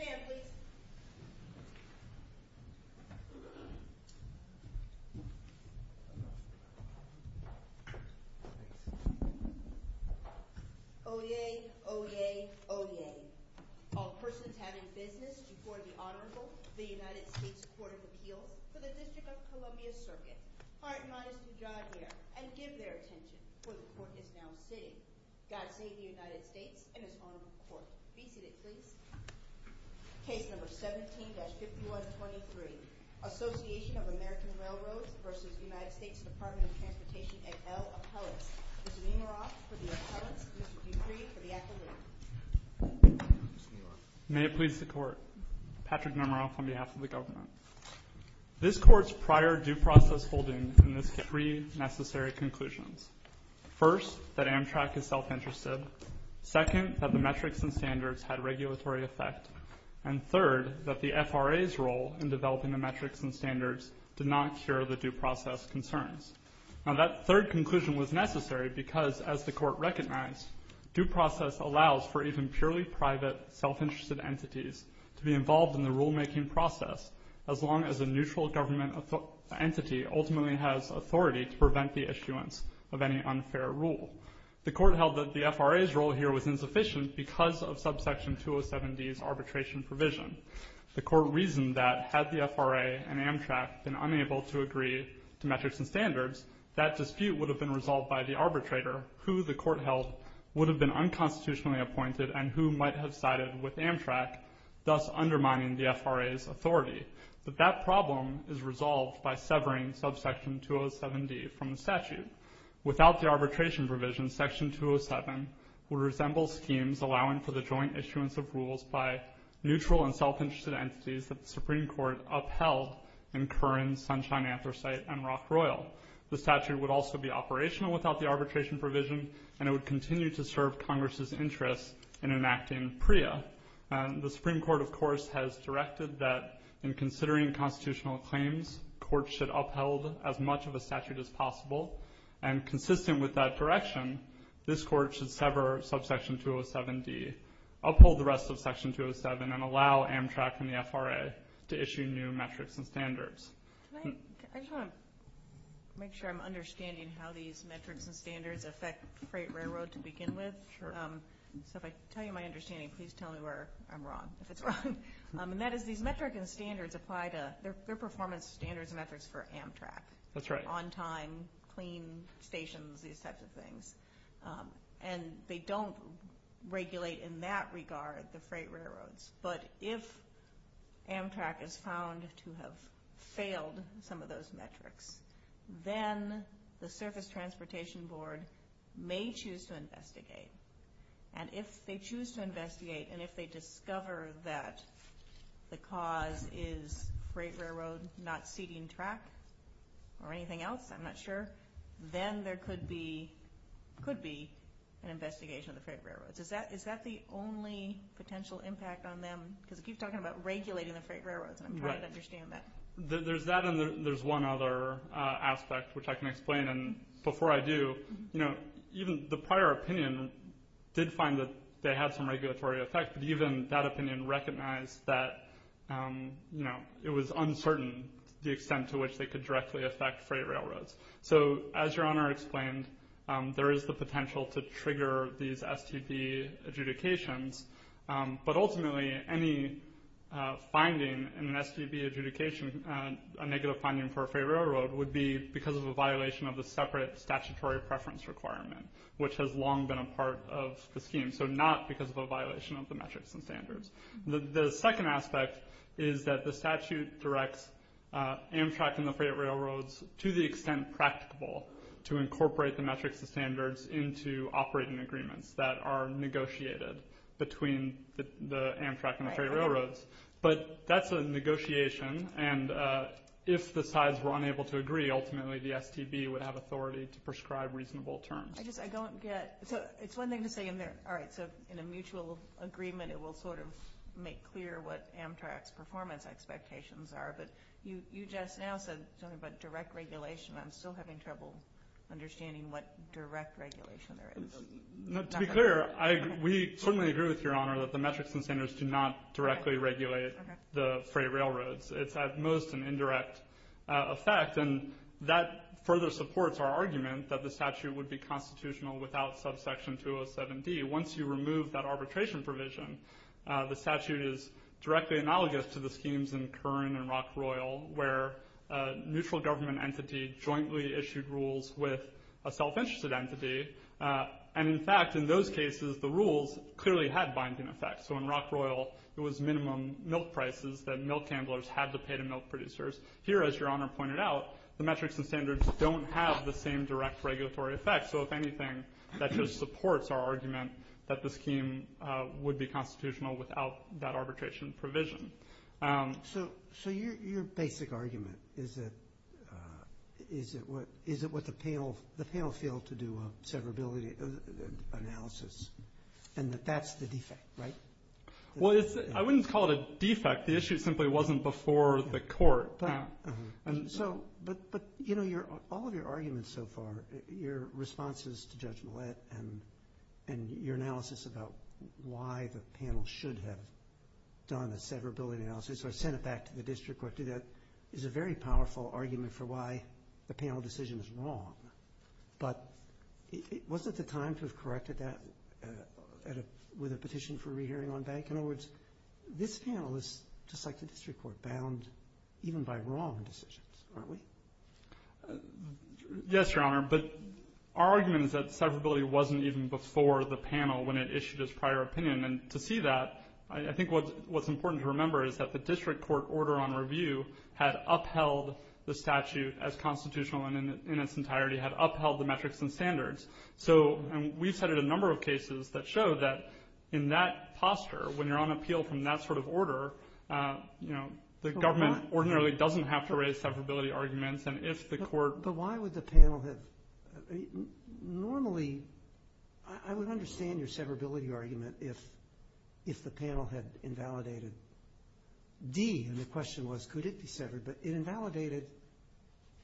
Stand, please. Oyez. Oyez. Oyez. All persons having business before the Honorable, the United States Court of Appeals, for the District of Columbia Circuit, are admonished to draw near and give their attention, for the Court is now sitting. Oyez. Oyez. Oyez. Oyez. Oyez. Oyez. Oyez. Oyez. Oyez. Oyez. Oyez. Oyez. Please be seated, please. Case number 17-5123, Association of American Railroads vs. United States Department of Transportation et al. Appellates. Mr. Nemiroff for the appellates, Mr. Dupri for the accepting. Mr. Nemiroff. May it please the Court. Patrick Nemiroff on behalf of the government. This Court's prior due process holding in this case had three necessary conclusions. First, that Amtrak is self-interested. Second, that the metrics and standards had regulatory effect. And third, that the FRA's role in developing the metrics and standards did not cure the due process concerns. Now that third conclusion was necessary because, as the Court recognized, due process allows for even purely private, self-interested entities to be involved in the rulemaking process as long as a neutral government entity ultimately has authority to prevent the issuance of any unfair rule. The Court held that the FRA's role here was insufficient because of subsection 207D's arbitration provision. The Court reasoned that, had the FRA and Amtrak been unable to agree to metrics and standards, that dispute would have been resolved by the arbitrator, who the Court held would have been unconstitutionally appointed and who might have sided with Amtrak, thus undermining the FRA's authority. But that problem is resolved by severing subsection 207D from the statute. Without the arbitration provision, section 207 would resemble schemes allowing for the joint issuance of rules by neutral and self-interested entities that the Supreme Court upheld in Curran, Sunshine, Anthracite, and Rock Royal. The statute would also be operational without the arbitration provision, and it would continue to serve Congress's interests in enacting PREA. The Supreme Court, of course, has directed that, in considering constitutional claims, courts should uphold as much of a statute as possible, and consistent with that direction, this Court should sever subsection 207D, uphold the rest of section 207, and allow Amtrak and the FRA to issue new metrics and standards. I just want to make sure I'm understanding how these metrics and standards affect freight railroad to begin with. Sure. So if I tell you my understanding, please tell me where I'm wrong, if it's wrong. And that is, these metrics and standards apply to, they're performance standards and metrics for Amtrak. That's right. On time, clean stations, these types of things. And they don't regulate, in that regard, the freight railroads. But if Amtrak is found to have failed some of those metrics, then the Surface Transportation Board may choose to investigate. And if they choose to investigate, and if they discover that the cause is freight railroad not seating track, or anything else, I'm not sure, then there could be an investigation of the freight railroads. Is that the only potential impact on them? Because you keep talking about regulating the freight railroads, and I'm trying to understand that. Right. There's that, and there's one other aspect, which I can explain. And before I do, even the prior opinion did find that they had some regulatory effect. But even that opinion recognized that it was uncertain the extent to which they could directly affect freight railroads. So, as Your Honor explained, there is the potential to trigger these STB adjudications. But ultimately, any finding in an STB adjudication, a negative finding for a freight railroad, would be because of a violation of the separate statutory preference requirement, which has long been a part of the scheme. So, not because of a violation of the metrics and standards. The second aspect is that the statute directs Amtrak and the freight railroads, to the extent practicable, to incorporate the metrics and standards into operating agreements that are negotiated between the Amtrak and the freight railroads. Right. So, that's a negotiation. And if the sides were unable to agree, ultimately the STB would have authority to prescribe reasonable terms. I just, I don't get. So, it's one thing to say, all right, so in a mutual agreement, it will sort of make clear what Amtrak's performance expectations are. But you just now said something about direct regulation. I'm still having trouble understanding what direct regulation is. To be clear, we certainly agree with Your Honor that the metrics and standards do not directly regulate the freight railroads. It's at most an indirect effect. And that further supports our argument that the statute would be constitutional without subsection 207D. Once you remove that arbitration provision, the statute is directly analogous to the schemes in Kern and Rock Royal, where a neutral government entity jointly issued rules with a self-interested entity. And in fact, in those cases, the rules clearly had binding effects. So, in Rock Royal, it was minimum milk prices that milk handlers had to pay to milk producers. Here, as Your Honor pointed out, the metrics and standards don't have the same direct regulatory effect. So, if anything, that just supports our argument that the scheme would be constitutional without that arbitration provision. So, your basic argument is that, is it what the panel, the panel failed to do a severability analysis, and that that's the defect, right? Well, I wouldn't call it a defect. The issue simply wasn't before the court. But, you know, all of your arguments so far, your responses to Judge Millett and your analysis about why the panel should have done a severability analysis or sent it back to the district court to do that, is a very powerful argument for why the panel decision is wrong. But, was it the time to have corrected that with a petition for a re-hearing on bank? In other words, this panel is, just like the district court, bound even by wrong decisions, aren't we? Yes, Your Honor. But our argument is that severability wasn't even before the panel when it issued its prior opinion. And to see that, I think what's important to remember is that the district court order on review had upheld the statute as constitutional in its entirety, had upheld the metrics and standards. So, and we've cited a number of cases that show that in that posture, when you're on appeal from that sort of order, you know, the government ordinarily doesn't have to raise severability arguments, and if the court... But why would the panel have, normally, I would understand your severability argument if the panel had invalidated D, and the question was, could it be severed? But it invalidated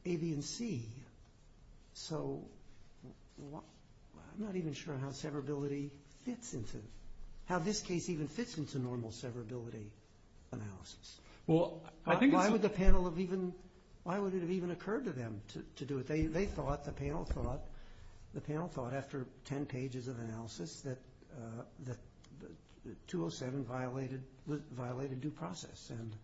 A, B, and C. So, I'm not even sure how severability fits into, how this case even fits into normal severability analysis. Well, I think it's... Why would the panel have even, why would it have even occurred to them to do it? They thought, the panel thought, the panel thought after 10 pages of analysis that 207 violated due process, and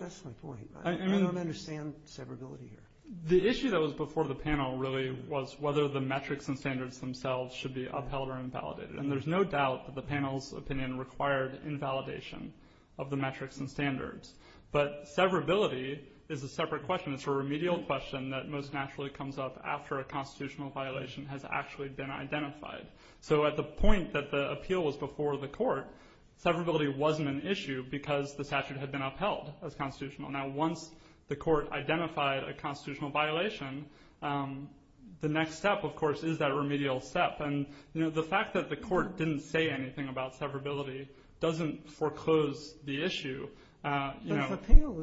that's my point. I don't understand severability here. The issue that was before the panel really was whether the metrics and standards themselves should be upheld or invalidated, and there's no doubt that the panel's opinion required invalidation of the metrics and standards. But severability is a separate question, it's a remedial question that most naturally comes up after a constitutional violation has actually been identified. So at the point that the appeal was before the court, severability wasn't an issue because the statute had been upheld as constitutional. Now, once the court identified a constitutional violation, the next step, of course, is that remedial step. The fact that the court didn't say anything about severability doesn't foreclose the issue. But if a panel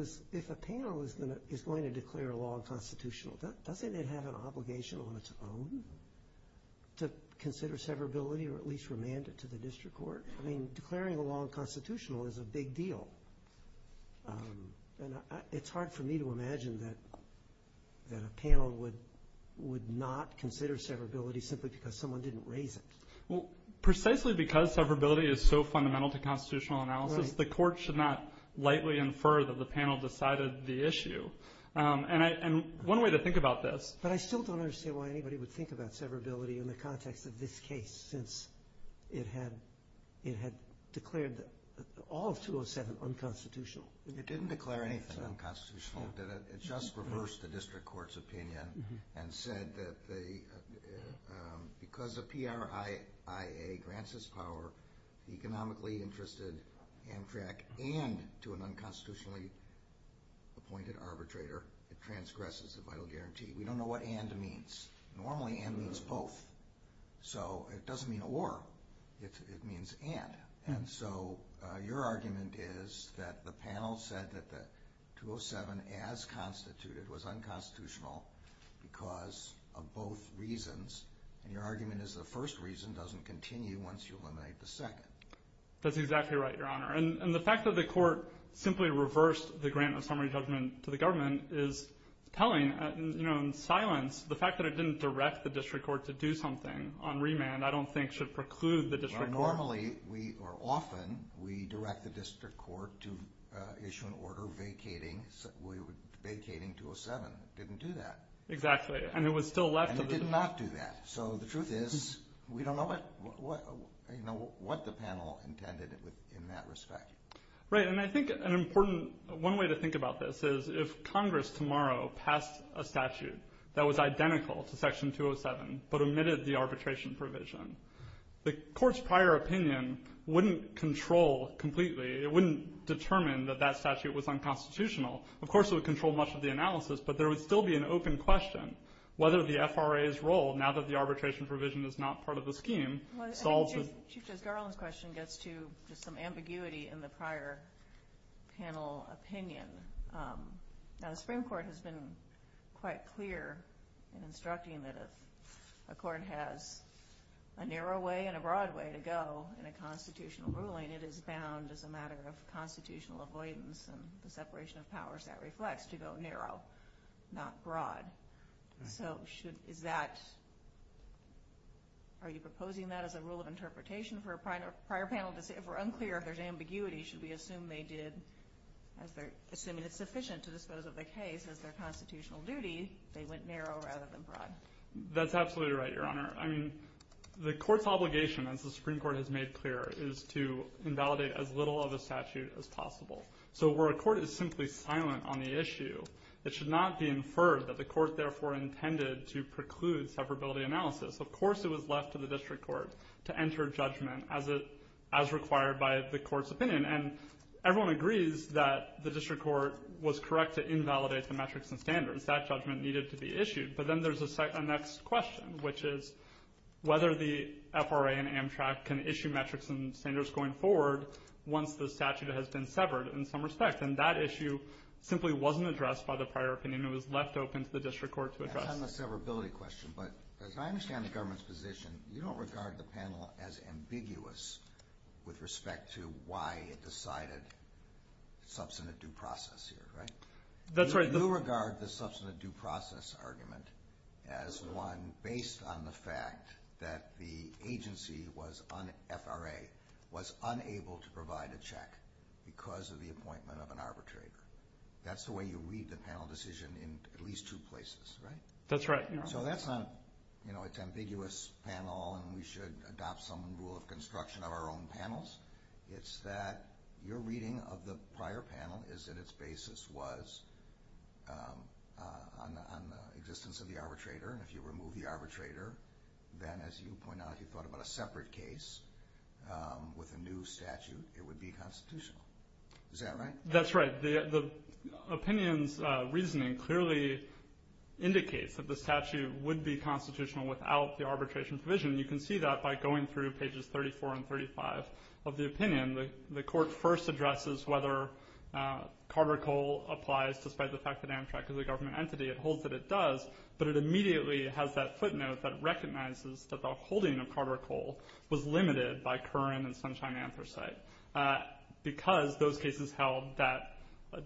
is going to declare a law unconstitutional, doesn't it have an obligation on its own to consider severability or at least remand it to the district court? Declaring a law unconstitutional is a big deal. It's hard for me to imagine that a panel would not consider severability simply because someone didn't raise it. Precisely because severability is so fundamental to constitutional analysis, the court should not lightly infer that the panel decided the issue. One way to think about this... But I still don't understand why anybody would think about severability in the context of this case, since it had declared all of 207 unconstitutional. It didn't declare anything unconstitutional, it just reversed the district court's opinion and said that because the PRIIA grants this power, economically interested Amtrak and to an unconstitutionally appointed arbitrator, it transgresses the vital guarantee. We don't know what and means. Normally and means both. So it doesn't mean or, it means and. And so your argument is that the panel said that the 207 as constituted was unconstitutional because of both reasons. And your argument is the first reason doesn't continue once you eliminate the second. That's exactly right, Your Honor. And the fact that the court simply reversed the grant of summary judgment to the government is telling. In silence, the fact that it didn't direct the district court to do something on remand, I don't think should preclude the district court. Normally, or often, we direct the district court to issue an order vacating 207. It didn't do that. Exactly. And it was still left. And it did not do that. So the truth is, we don't know what the panel intended in that respect. Right, and I think an important, one way to think about this is, if Congress tomorrow passed a statute that was identical to Section 207, but omitted the arbitration provision, the court's prior opinion wouldn't control completely, it wouldn't determine that that statute was unconstitutional. Of course, it would control much of the analysis, but there would still be an open question, whether the FRA's role, now that the arbitration provision is not part of the scheme, solved the... Chief Justice Garland's question gets to just some ambiguity in the prior panel opinion. Now, the Supreme Court has been quite clear in instructing that if a court has a narrow way and a broad way to go in a constitutional ruling, it is bound, as a matter of constitutional avoidance and the separation of powers that reflects, to go narrow, not broad. So should, is that, are you proposing that as a rule of interpretation for a prior panel if we're unclear, if there's ambiguity, should we assume they did, assuming it's sufficient to dispose of the case as their constitutional duty, they went narrow rather than broad? That's absolutely right, Your Honor. I mean, the court's obligation, as the Supreme Court has made clear, is to invalidate as little of a statute as possible. So where a court is simply silent on the issue, it should not be inferred that the court therefore intended to preclude separability analysis. Of course it was left to the district court to enter a judgment as it, as required by the court's opinion. And everyone agrees that the district court was correct to invalidate the metrics and standards. That judgment needed to be issued. But then there's a next question, which is whether the FRA and Amtrak can issue metrics and standards going forward once the statute has been severed in some respect. And that issue simply wasn't addressed by the prior opinion. It was left open to the district court to address it. It's on the severability question. But as I understand the government's position, you don't regard the panel as ambiguous with respect to why it decided substantive due process here, right? That's right. You regard the substantive due process argument as one based on the fact that the agency was on FRA, was unable to provide a check because of the appointment of an arbitrary. That's the way you read the panel decision in at least two places, right? That's right. So that's not, you know, it's ambiguous panel and we should adopt some rule of construction of our own panels. It's that your reading of the prior panel is that its basis was on the existence of the arbitrator. And if you remove the arbitrator, then as you point out, if you thought about a separate case with a new statute, it would be constitutional. Is that right? That's right. The opinion's reasoning clearly indicates that the statute would be constitutional without the arbitration provision. And you can see that by going through pages 34 and 35 of the opinion. The court first addresses whether Carter-Cole applies despite the fact that Amtrak is a government entity. It holds that it does, but it immediately has that footnote that recognizes that the holding of Carter-Cole was limited by Curran and Sunshine Anthracite because those cases held that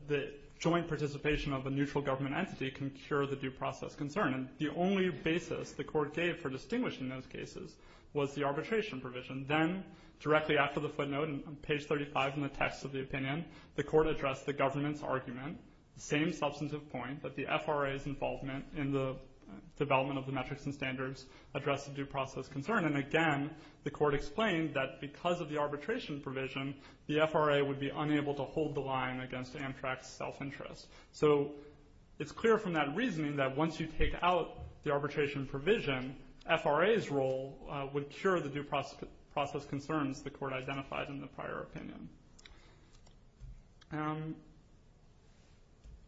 the joint participation of a neutral government entity can cure the due process concern. And the only basis the court gave for distinguishing those cases was the arbitration provision. Then, directly after the footnote on page 35 in the text of the opinion, the court addressed the government's argument, the same substantive point that the FRA's involvement in the development of the metrics and standards addressed the due process concern. And again, the court explained that because of the arbitration provision, the FRA would be unable to hold the line against Amtrak's self-interest. So, it's clear from that reasoning that once you take out the arbitration provision, FRA's role would cure the due process concerns the court identified in the prior opinion.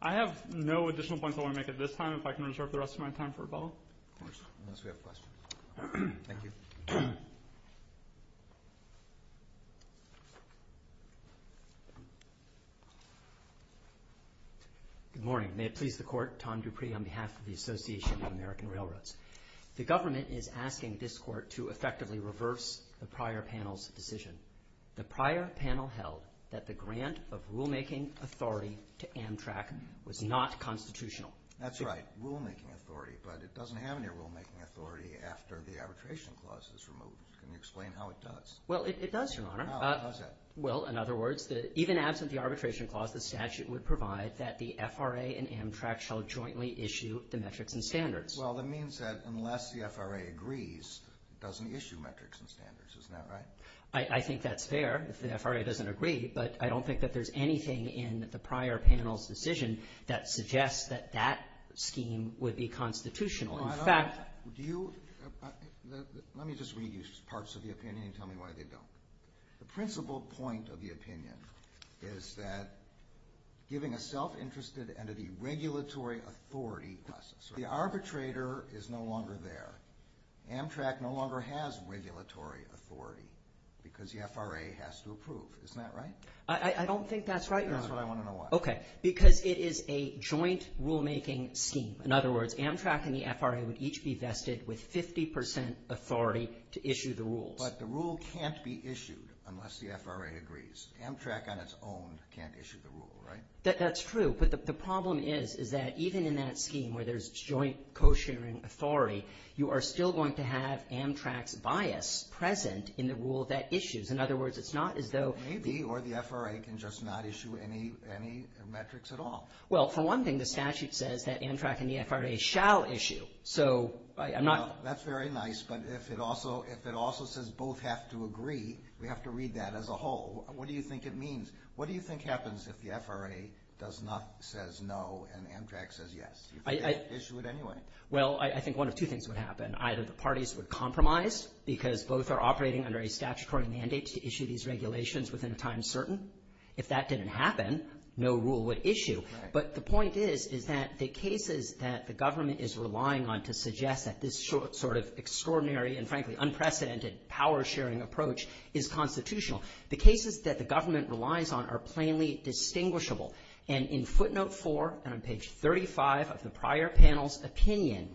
I have no additional points I want to make at this time. If I can reserve the rest of my time for Rebella. Of course, unless we have questions. Thank you. Good morning. May it please the court. Tom Dupree on behalf of the Association of American Railroads. The government is asking this court to effectively reverse the prior panel's decision. The prior panel held that the grant of rulemaking authority to Amtrak was not constitutional. That's right. Rulemaking authority. But it doesn't have any rulemaking authority after the arbitration clause is removed. Can you explain how it does? Well, it does, Your Honor. How is that? Well, in other words, even absent the arbitration clause, the statute would provide that the FRA and Amtrak shall jointly issue the metrics and standards. Well, that means that unless the FRA agrees, it doesn't issue metrics and standards. Isn't that right? I think that's fair if the FRA doesn't agree, but I don't think that there's anything in the prior panel's decision that suggests that that scheme would be constitutional. In fact, do you – let me just read you parts of the opinion and tell me why they don't. The principal point of the opinion is that giving a self-interested entity regulatory authority – the arbitrator is no longer there. Amtrak no longer has regulatory authority because the FRA has to approve. Isn't that right? I don't think that's right, Your Honor. That's what I want to know why. Okay. Because it is a joint rulemaking scheme. In other words, Amtrak and the FRA would each be vested with 50 percent authority to issue the rules. But the rule can't be issued unless the FRA agrees. Amtrak on its own can't issue the rule, right? That's true. But the problem is, is that even in that scheme where there's joint co-sharing authority, you are still going to have Amtrak's bias present in the rule that issues. In other words, it's not as though – Maybe. Or the FRA can just not issue any metrics at all. Well, for one thing, the statute says that Amtrak and the FRA shall issue. So, I'm not – Well, that's very nice. But if it also says both have to agree, we have to read that as a whole. What do you think it means? What do you think happens if the FRA does not – says no and Amtrak says yes? You can't issue it anyway. Well, I think one of two things would happen. Either the parties would compromise because both are operating under a statutory mandate to issue these regulations within a time certain. If that didn't happen, no rule would issue. Right. But the point is, is that the cases that the government is relying on to suggest that this sort of extraordinary and, frankly, unprecedented power-sharing approach is constitutional, the cases that the government relies on are plainly distinguishable. And in footnote 4 and on page 35 of the prior panel's opinion,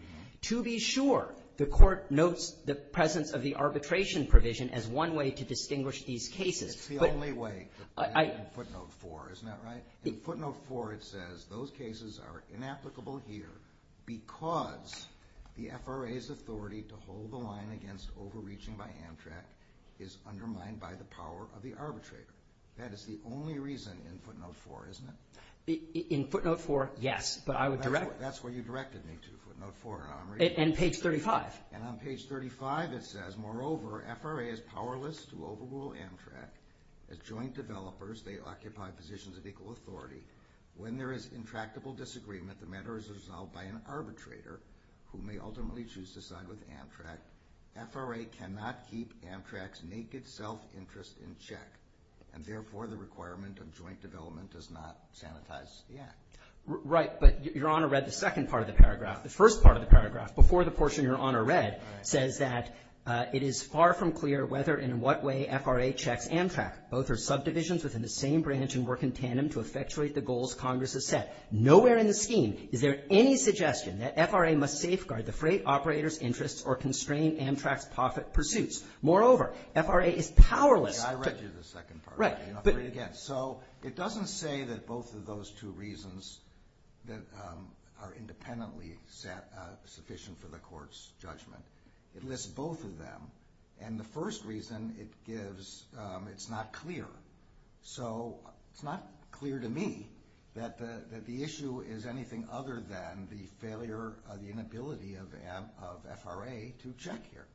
to be sure, the court notes the presence of the arbitration provision as one way to distinguish these cases. It's the only way in footnote 4. Isn't that right? In footnote 4 it says those cases are inapplicable here because the FRA's authority to hold the line against overreaching by Amtrak is undermined by the power of the arbitrator. That is the only reason in footnote 4, isn't it? In footnote 4, yes, but I would direct – That's where you directed me to, footnote 4, Omri. And page 35. And on page 35 it says, moreover, FRA is powerless to overrule Amtrak. As joint developers, they occupy positions of equal authority. When there is intractable disagreement, the matter is resolved by an arbitrator who may ultimately choose to side with Amtrak. FRA cannot keep Amtrak's naked self-interest in check, and therefore the requirement of joint development does not sanitize the act. Right, but Your Honor read the second part of the paragraph. The first part of the paragraph, before the portion Your Honor read, says that it is far from clear whether and in what way FRA checks Amtrak. Both are subdivisions within the same branch and work in tandem to effectuate the goals Congress has set. Nowhere in the scheme is there any suggestion that FRA must safeguard the freight operator's interests or constrain Amtrak's profit pursuits. Moreover, FRA is powerless to – I read you the second part. Right. Read it again. So it doesn't say that both of those two reasons that are independently sufficient for the court's judgment. It lists both of them, and the first reason it gives, it's not clear. So it's not clear to me that the issue is anything other than the failure or the inability of FRA to check here.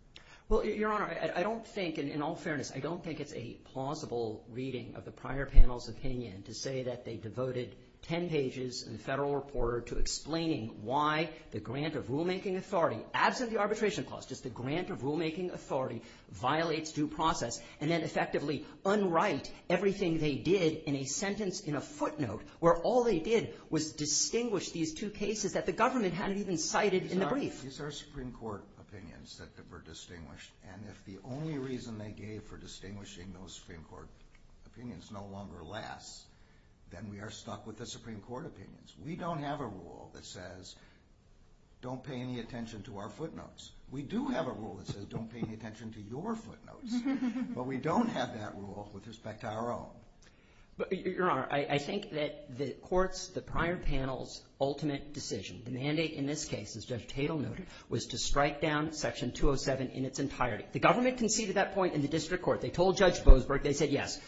Well, Your Honor, I don't think, in all fairness, I don't think it's a plausible reading of the prior panel's opinion to say that they devoted 10 pages in the Federal Reporter to explaining why the grant of rulemaking authority, absent the arbitration clause, just the grant of rulemaking authority violates due process and then effectively unwrite everything they did in a sentence in a footnote where all they did was distinguish these two cases that the government hadn't even cited in the brief. These are Supreme Court opinions that were distinguished, and if the only reason they gave for distinguishing those Supreme Court opinions is no longer less, then we are stuck with the Supreme Court opinions. We don't have a rule that says don't pay any attention to our footnotes. We do have a rule that says don't pay any attention to your footnotes, but we don't have that rule with respect to our own. Your Honor, I think that the court's, the prior panel's ultimate decision, the mandate in this case, as Judge Tatel noted, was to strike down Section 207 in its entirety. The government conceded that point in the district court. They told Judge Boasberg. They said yes.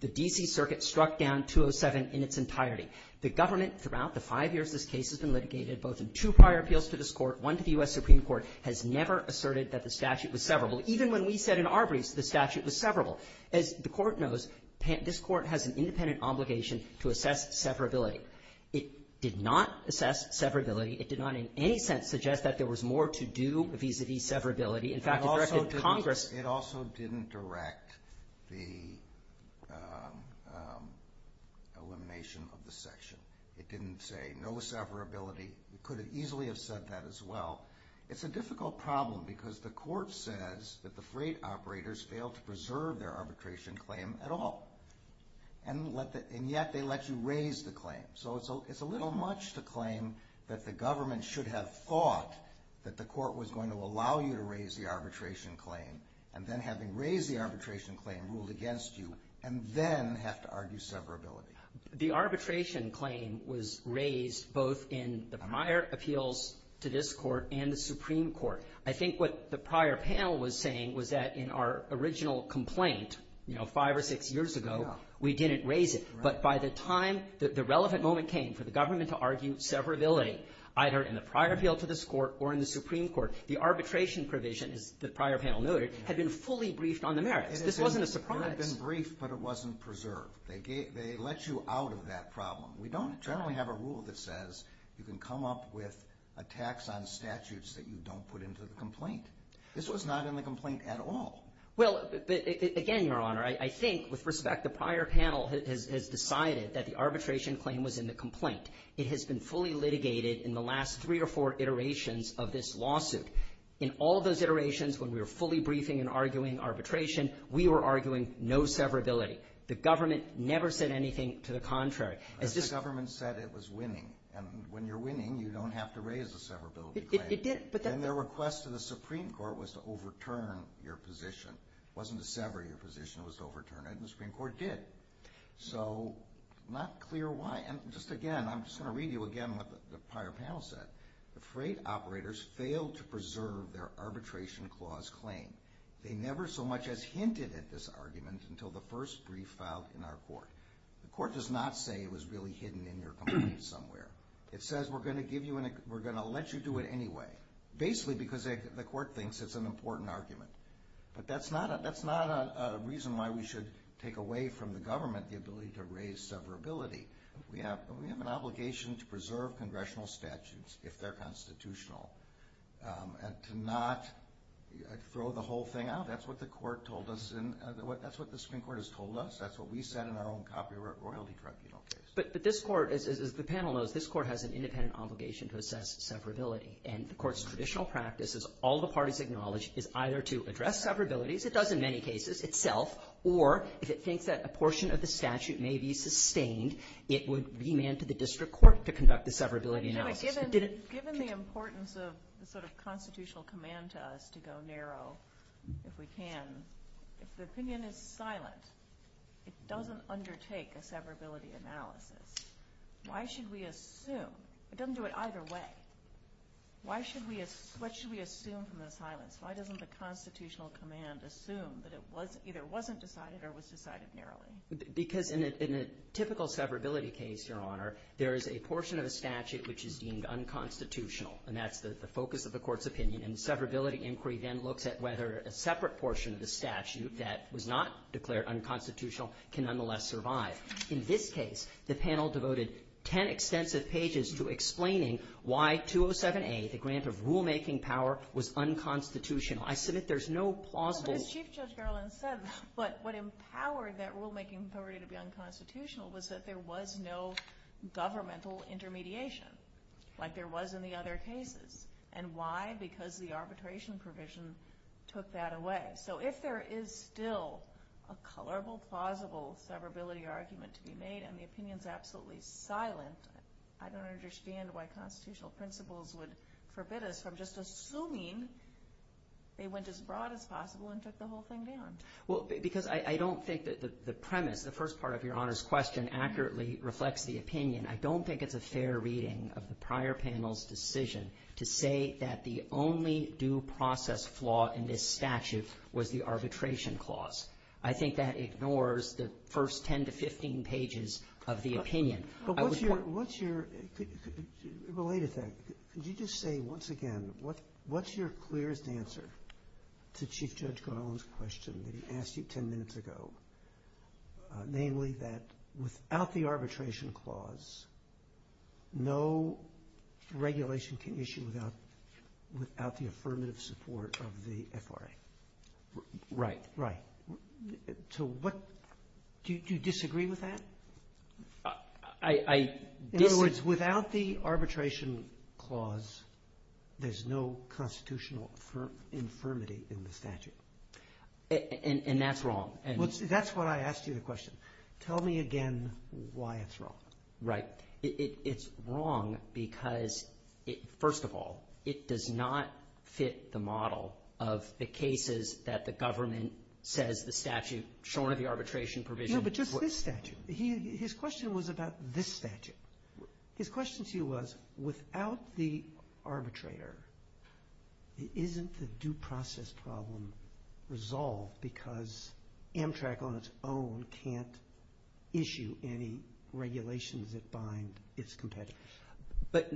The D.C. Circuit struck down 207 in its entirety. The government throughout the five years this case has been litigated, both in two prior appeals to this Court, one to the U.S. Supreme Court, has never asserted that the statute was severable. Even when we said in Arbery's the statute was severable. As the Court knows, this Court has an independent obligation to assess severability. It did not assess severability. It did not in any sense suggest that there was more to do vis-a-vis severability. In fact, it directed Congress to do it. It did not direct the elimination of the section. It didn't say no severability. It could have easily have said that as well. It's a difficult problem because the Court says that the freight operators failed to preserve their arbitration claim at all, and yet they let you raise the claim. So it's a little much to claim that the government should have thought that the Court was going to allow you to raise the arbitration claim, and then having raised the arbitration claim ruled against you, and then have to argue severability. The arbitration claim was raised both in the prior appeals to this Court and the Supreme Court. I think what the prior panel was saying was that in our original complaint, you know, five or six years ago, we didn't raise it. But by the time the relevant moment came for the government to argue severability, either in the prior appeal to this Court or in the Supreme Court, the arbitration provision, as the prior panel noted, had been fully briefed on the merits. This wasn't a surprise. It had been briefed, but it wasn't preserved. They let you out of that problem. We don't generally have a rule that says you can come up with a tax on statutes that you don't put into the complaint. This was not in the complaint at all. Well, again, Your Honor, I think with respect, the prior panel has decided that the arbitration claim was in the complaint. It has been fully litigated in the last three or four iterations of this lawsuit. In all those iterations, when we were fully briefing and arguing arbitration, we were arguing no severability. The government never said anything to the contrary. The government said it was winning. And when you're winning, you don't have to raise the severability claim. It did. And their request to the Supreme Court was to overturn your position. It wasn't to sever your position. It was to overturn it, and the Supreme Court did. So not clear why. And just again, I'm just going to read you again what the prior panel said. The freight operators failed to preserve their arbitration clause claim. They never so much as hinted at this argument until the first brief filed in our court. The court does not say it was really hidden in your complaint somewhere. It says we're going to let you do it anyway, basically because the court thinks it's an important argument. But that's not a reason why we should take away from the government the ability to raise severability. We have an obligation to preserve congressional statutes if they're constitutional and to not throw the whole thing out. That's what the Supreme Court has told us. That's what we said in our own copyright royalty tribunal case. But this court, as the panel knows, this court has an independent obligation to assess severability. And the court's traditional practice, as all the parties acknowledge, is either to address severabilities, it does in many cases itself, or if it thinks that a portion of the statute may be sustained, it would remand to the district court to conduct the severability analysis. Given the importance of the sort of constitutional command to us to go narrow, if we can, if the opinion is silent, it doesn't undertake a severability analysis. Why should we assume? It doesn't do it either way. What should we assume from the silence? Why doesn't the constitutional command assume that it either wasn't decided or was decided narrowly? Because in a typical severability case, Your Honor, there is a portion of a statute which is deemed unconstitutional, and that's the focus of the court's opinion. And the severability inquiry then looks at whether a separate portion of the statute that was not declared unconstitutional can nonetheless survive. In this case, the panel devoted ten extensive pages to explaining why 207A, the grant of rulemaking power, was unconstitutional. I submit there's no plausible... Well, as Chief Judge Garland said, what empowered that rulemaking power to be unconstitutional was that there was no governmental intermediation, like there was in the other cases. And why? Because the arbitration provision took that away. So if there is still a colorable, plausible severability argument to be made and the opinion is absolutely silent, I don't understand why constitutional principles would forbid us from just assuming they went as broad as possible and took the whole thing down. Well, because I don't think that the premise, the first part of Your Honor's question accurately reflects the opinion. I don't think it's a fair reading of the prior panel's decision to say that the only due process flaw in this statute was the arbitration clause. I think that ignores the first 10 to 15 pages of the opinion. Related to that, could you just say once again, what's your clearest answer to Chief Judge Garland's question that he asked you 10 minutes ago, namely that without the arbitration clause, no regulation can issue without the affirmative support of the FRA? Right. Right. Do you disagree with that? I disagree. In other words, without the arbitration clause, there's no constitutional infirmity in the statute. And that's wrong. That's why I asked you the question. Tell me again why it's wrong. Right. It's wrong because, first of all, it does not fit the model of the cases that the government says the statute, shorn of the arbitration provision. No, but just this statute. His question was about this statute. His question to you was, without the arbitrator, isn't the due process problem resolved because Amtrak on its own can't issue any regulations that bind its competitors? But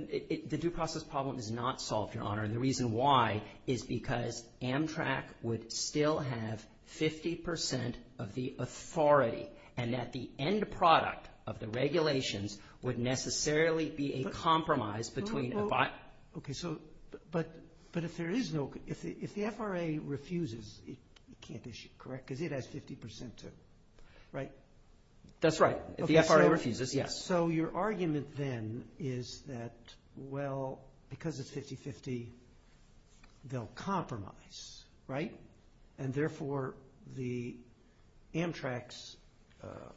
the due process problem is not solved, Your Honor. And the reason why is because Amtrak would still have 50% of the authority and that the end product of the regulations would necessarily be a compromise between a bond. Okay. So, but if there is no, if the FRA refuses, it can't issue, correct? Because it has 50%, right? That's right. If the FRA refuses, yes. So your argument then is that, well, because it's 50-50, they'll compromise, right? And, therefore, the Amtrak's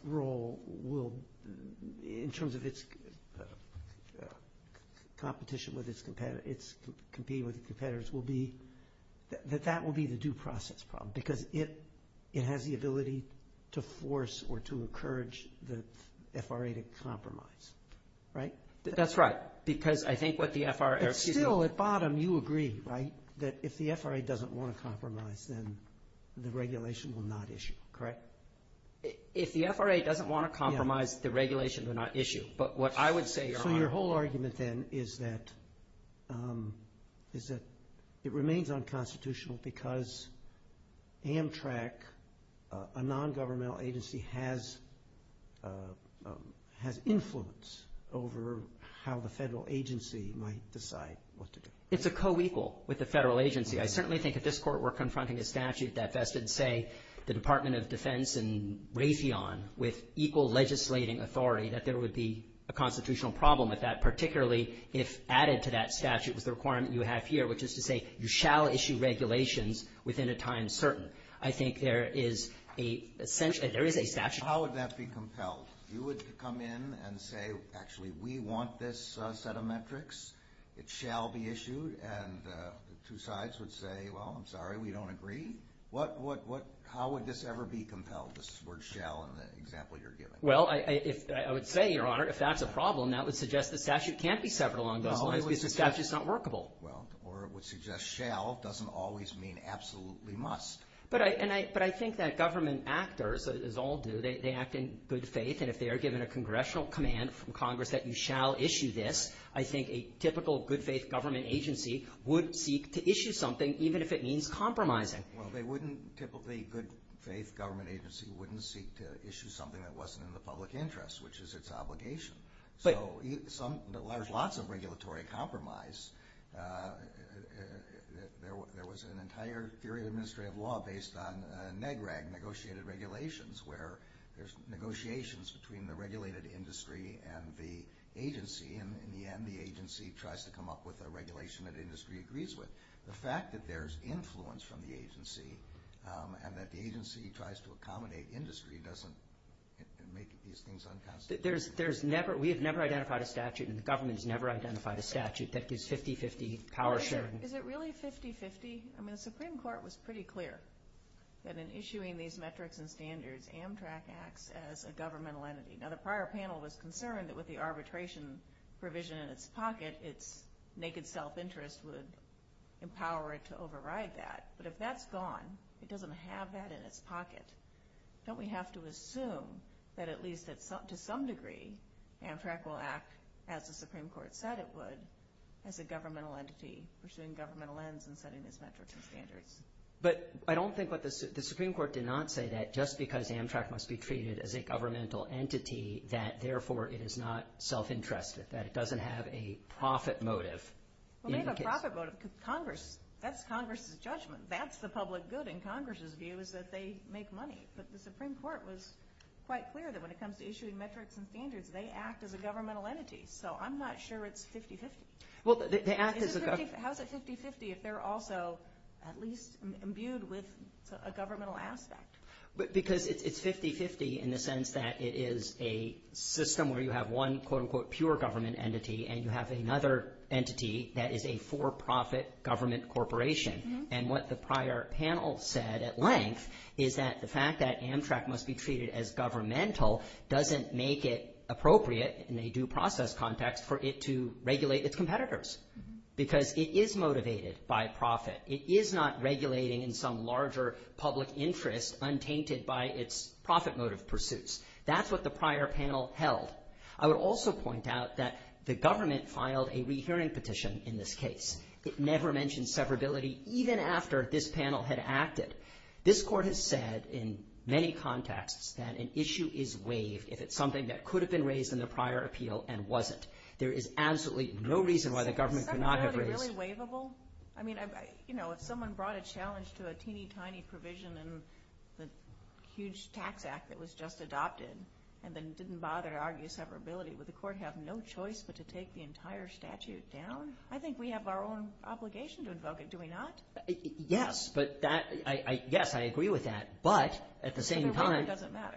role will, in terms of its competition with its competitors, will be, that that will be the due process problem because it has the ability to force or to encourage the FRA to compromise, right? That's right. Because I think what the FRA, excuse me. But still, at bottom, you agree, right, that if the FRA doesn't want to compromise, then the regulation will not issue, correct? If the FRA doesn't want to compromise, the regulation will not issue. But what I would say, Your Honor. is that it remains unconstitutional because Amtrak, a nongovernmental agency, has influence over how the federal agency might decide what to do. It's a co-equal with the federal agency. I certainly think if this Court were confronting a statute that vested, say, the Department of Defense and Raytheon with equal legislating authority, that there would be a constitutional problem with that, particularly if added to that statute was the requirement you have here, which is to say you shall issue regulations within a time certain. I think there is a statute. How would that be compelled? You would come in and say, actually, we want this set of metrics. It shall be issued. And the two sides would say, well, I'm sorry, we don't agree. How would this ever be compelled, this word shall in the example you're giving? Well, I would say, Your Honor, if that's a problem, that would suggest the statute can't be severed along those lines because the statute is not workable. Well, or it would suggest shall doesn't always mean absolutely must. But I think that government actors, as all do, they act in good faith. And if they are given a congressional command from Congress that you shall issue this, I think a typical good-faith government agency would seek to issue something, even if it means compromising. Well, they wouldn't typically, a good-faith government agency, wouldn't seek to issue something that wasn't in the public interest, which is its obligation. So there's lots of regulatory compromise. There was an entire theory of administrative law based on NEGREG, negotiated regulations, where there's negotiations between the regulated industry and the agency. And in the end, the agency tries to come up with a regulation that industry agrees with. The fact that there's influence from the agency and that the agency tries to accommodate industry doesn't make these things unconstitutional. We have never identified a statute, and the government has never identified a statute, that gives 50-50 power sharing. Is it really 50-50? I mean, the Supreme Court was pretty clear that in issuing these metrics and standards, Amtrak acts as a governmental entity. Now, the prior panel was concerned that with the arbitration provision in its pocket, its naked self-interest would empower it to override that. But if that's gone, it doesn't have that in its pocket, don't we have to assume that, at least to some degree, Amtrak will act as the Supreme Court said it would, as a governmental entity, pursuing governmental ends and setting its metrics and standards? But I don't think what the Supreme Court did not say, that just because Amtrak must be treated as a governmental entity, that therefore it is not self-interested, that it doesn't have a profit motive. That's Congress's judgment. That's the public good in Congress's view is that they make money. But the Supreme Court was quite clear that when it comes to issuing metrics and standards, they act as a governmental entity. So I'm not sure it's 50-50. How is it 50-50 if they're also at least imbued with a governmental aspect? Because it's 50-50 in the sense that it is a system where you have one, quote-unquote, pure government entity, and you have another entity that is a for-profit government corporation. And what the prior panel said at length is that the fact that Amtrak must be treated as governmental doesn't make it appropriate in a due process context for it to regulate its competitors because it is motivated by profit. It is not regulating in some larger public interest untainted by its profit motive pursuits. That's what the prior panel held. I would also point out that the government filed a rehearing petition in this case. It never mentioned severability even after this panel had acted. This court has said in many contexts that an issue is waived if it's something that could have been raised in the prior appeal and wasn't. There is absolutely no reason why the government could not have raised it. Is severability really waivable? I mean, you know, if someone brought a challenge to a teeny-tiny provision in the huge tax act that was just adopted and then didn't bother to argue severability, would the court have no choice but to take the entire statute down? I think we have our own obligation to invoke it, do we not? Yes, I agree with that, but at the same time,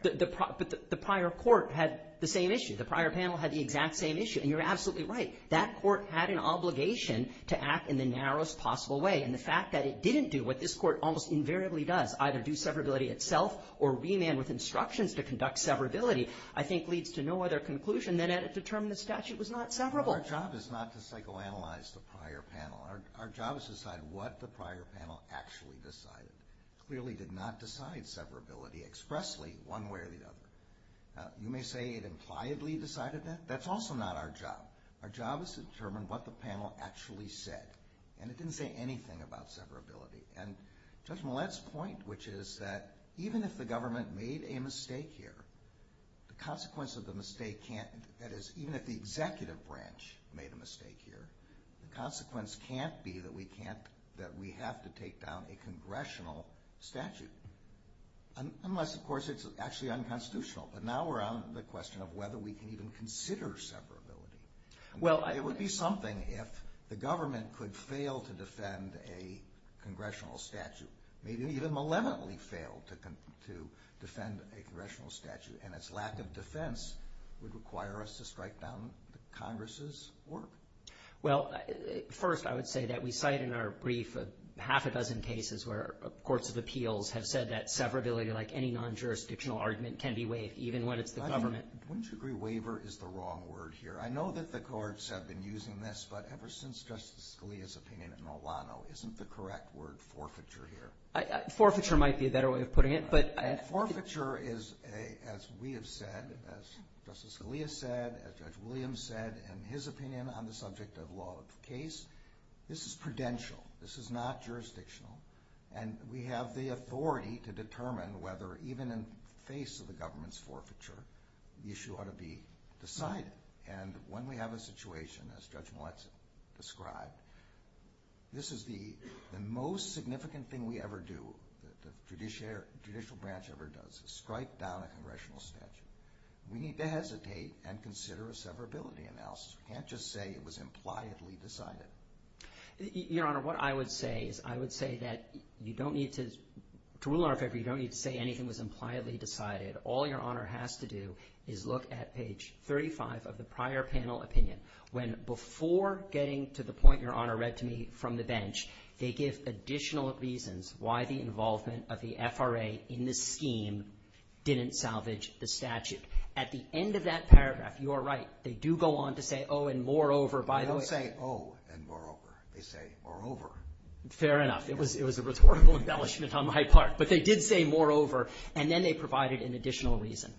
the prior court had the same issue. The prior panel had the exact same issue, and you're absolutely right. That court had an obligation to act in the narrowest possible way, and the fact that it didn't do what this court almost invariably does, either do severability itself or remand with instructions to conduct severability, I think leads to no other conclusion than it determined the statute was not severable. Our job is not to psychoanalyze the prior panel. Our job is to decide what the prior panel actually decided. It clearly did not decide severability expressly one way or the other. You may say it impliedly decided that. That's also not our job. Our job is to determine what the panel actually said, and it didn't say anything about severability. Judge Millett's point, which is that even if the government made a mistake here, the consequence of the mistake can't—that is, even if the executive branch made a mistake here, the consequence can't be that we have to take down a congressional statute, unless, of course, it's actually unconstitutional. But now we're on the question of whether we can even consider severability. It would be something if the government could fail to defend a congressional statute, maybe even malevolently fail to defend a congressional statute, and its lack of defense would require us to strike down Congress's work. Well, first, I would say that we cite in our brief half a dozen cases where courts of appeals have said that severability, like any non-jurisdictional argument, can be waived even when it's the government. Wouldn't you agree waiver is the wrong word here? I know that the courts have been using this, but ever since Justice Scalia's opinion at Nolano, isn't the correct word forfeiture here? Forfeiture might be a better way of putting it, but— Forfeiture is, as we have said, as Justice Scalia said, as Judge Williams said, in his opinion on the subject of law of case, this is prudential. This is not jurisdictional. And we have the authority to determine whether, even in face of the government's forfeiture, the issue ought to be decided. And when we have a situation, as Judge Millett described, this is the most significant thing we ever do, the judicial branch ever does, is strike down a congressional statute. We need to hesitate and consider a severability analysis. We can't just say it was impliedly decided. Your Honor, what I would say is I would say that you don't need to— to rule in our favor, you don't need to say anything was impliedly decided. All Your Honor has to do is look at page 35 of the prior panel opinion, when before getting to the point Your Honor read to me from the bench, they give additional reasons why the involvement of the FRA in this scheme didn't salvage the statute. At the end of that paragraph, you are right. They do go on to say, oh, and moreover, by the way— They don't say, oh, and moreover. They say, moreover. Fair enough. It was a rhetorical embellishment on my part. But they did say moreover. And then they provided an additional reason.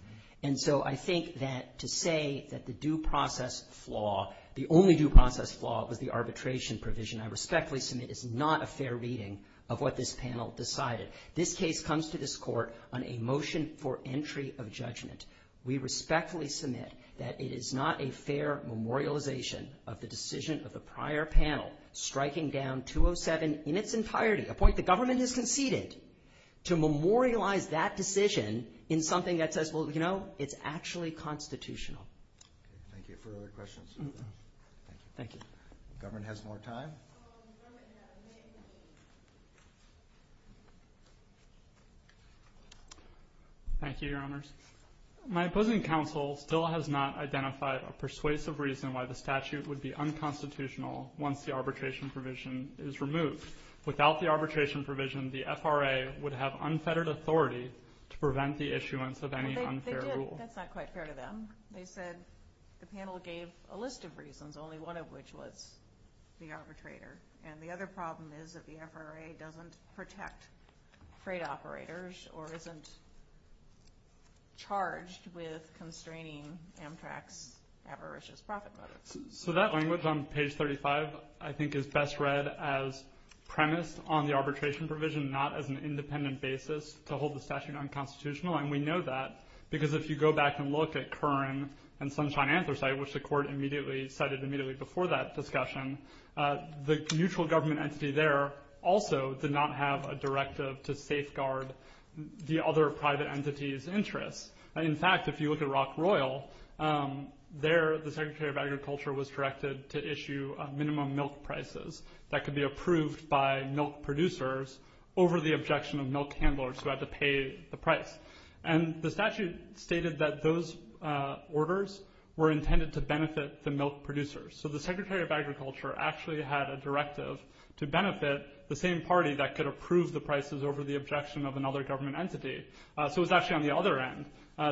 And so I think that to say that the due process flaw, the only due process flaw, was the arbitration provision I respectfully submit is not a fair reading of what this panel decided. This case comes to this Court on a motion for entry of judgment. We respectfully submit that it is not a fair memorialization of the decision of the prior panel striking down 207 in its entirety, a point the government has conceded to memorialize that decision in something that says, well, you know, it's actually constitutional. Thank you. Further questions? Thank you. Government has more time. Thank you, Your Honors. My opposing counsel still has not identified a persuasive reason why the statute would be unconstitutional once the arbitration provision is removed. Without the arbitration provision, the FRA would have unfettered authority to prevent the issuance of any unfair rule. That's not quite fair to them. They said the panel gave a list of reasons, only one of which was the arbitrator. And the other problem is that the FRA doesn't protect freight operators or isn't charged with constraining Amtrak's avaricious profit motives. So that language on page 35 I think is best read as premised on the arbitration provision, not as an independent basis to hold the statute unconstitutional. And we know that because if you go back and look at Curran and Sunshine Anthracite, which the Court immediately cited immediately before that discussion, the mutual government entity there also did not have a directive to safeguard the other private entities' interests. In fact, if you look at Rock Royal, there the Secretary of Agriculture was directed to issue minimum milk prices that could be approved by milk producers over the objection of milk handlers who had to pay the price. And the statute stated that those orders were intended to benefit the milk producers. So the Secretary of Agriculture actually had a directive to benefit the same party that could approve the prices over the objection of another government entity. So it was actually on the other end.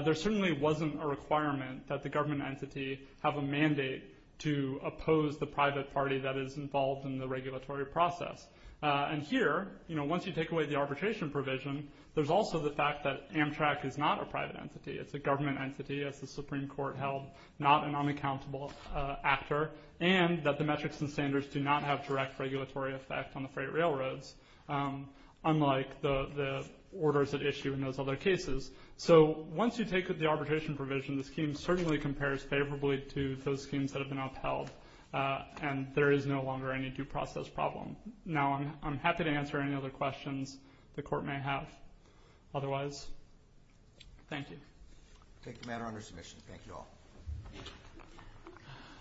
There certainly wasn't a requirement that the government entity have a mandate to oppose the private party that is involved in the regulatory process. And here, once you take away the arbitration provision, there's also the fact that Amtrak is not a private entity. It's a government entity, as the Supreme Court held, not an unaccountable actor, and that the metrics and standards do not have direct regulatory effect on the freight railroads, unlike the orders at issue in those other cases. So once you take the arbitration provision, the scheme certainly compares favorably to those schemes that have been upheld, and there is no longer any due process problem. Now I'm happy to answer any other questions the Court may have. Otherwise, thank you. I take the matter under submission. Thank you all.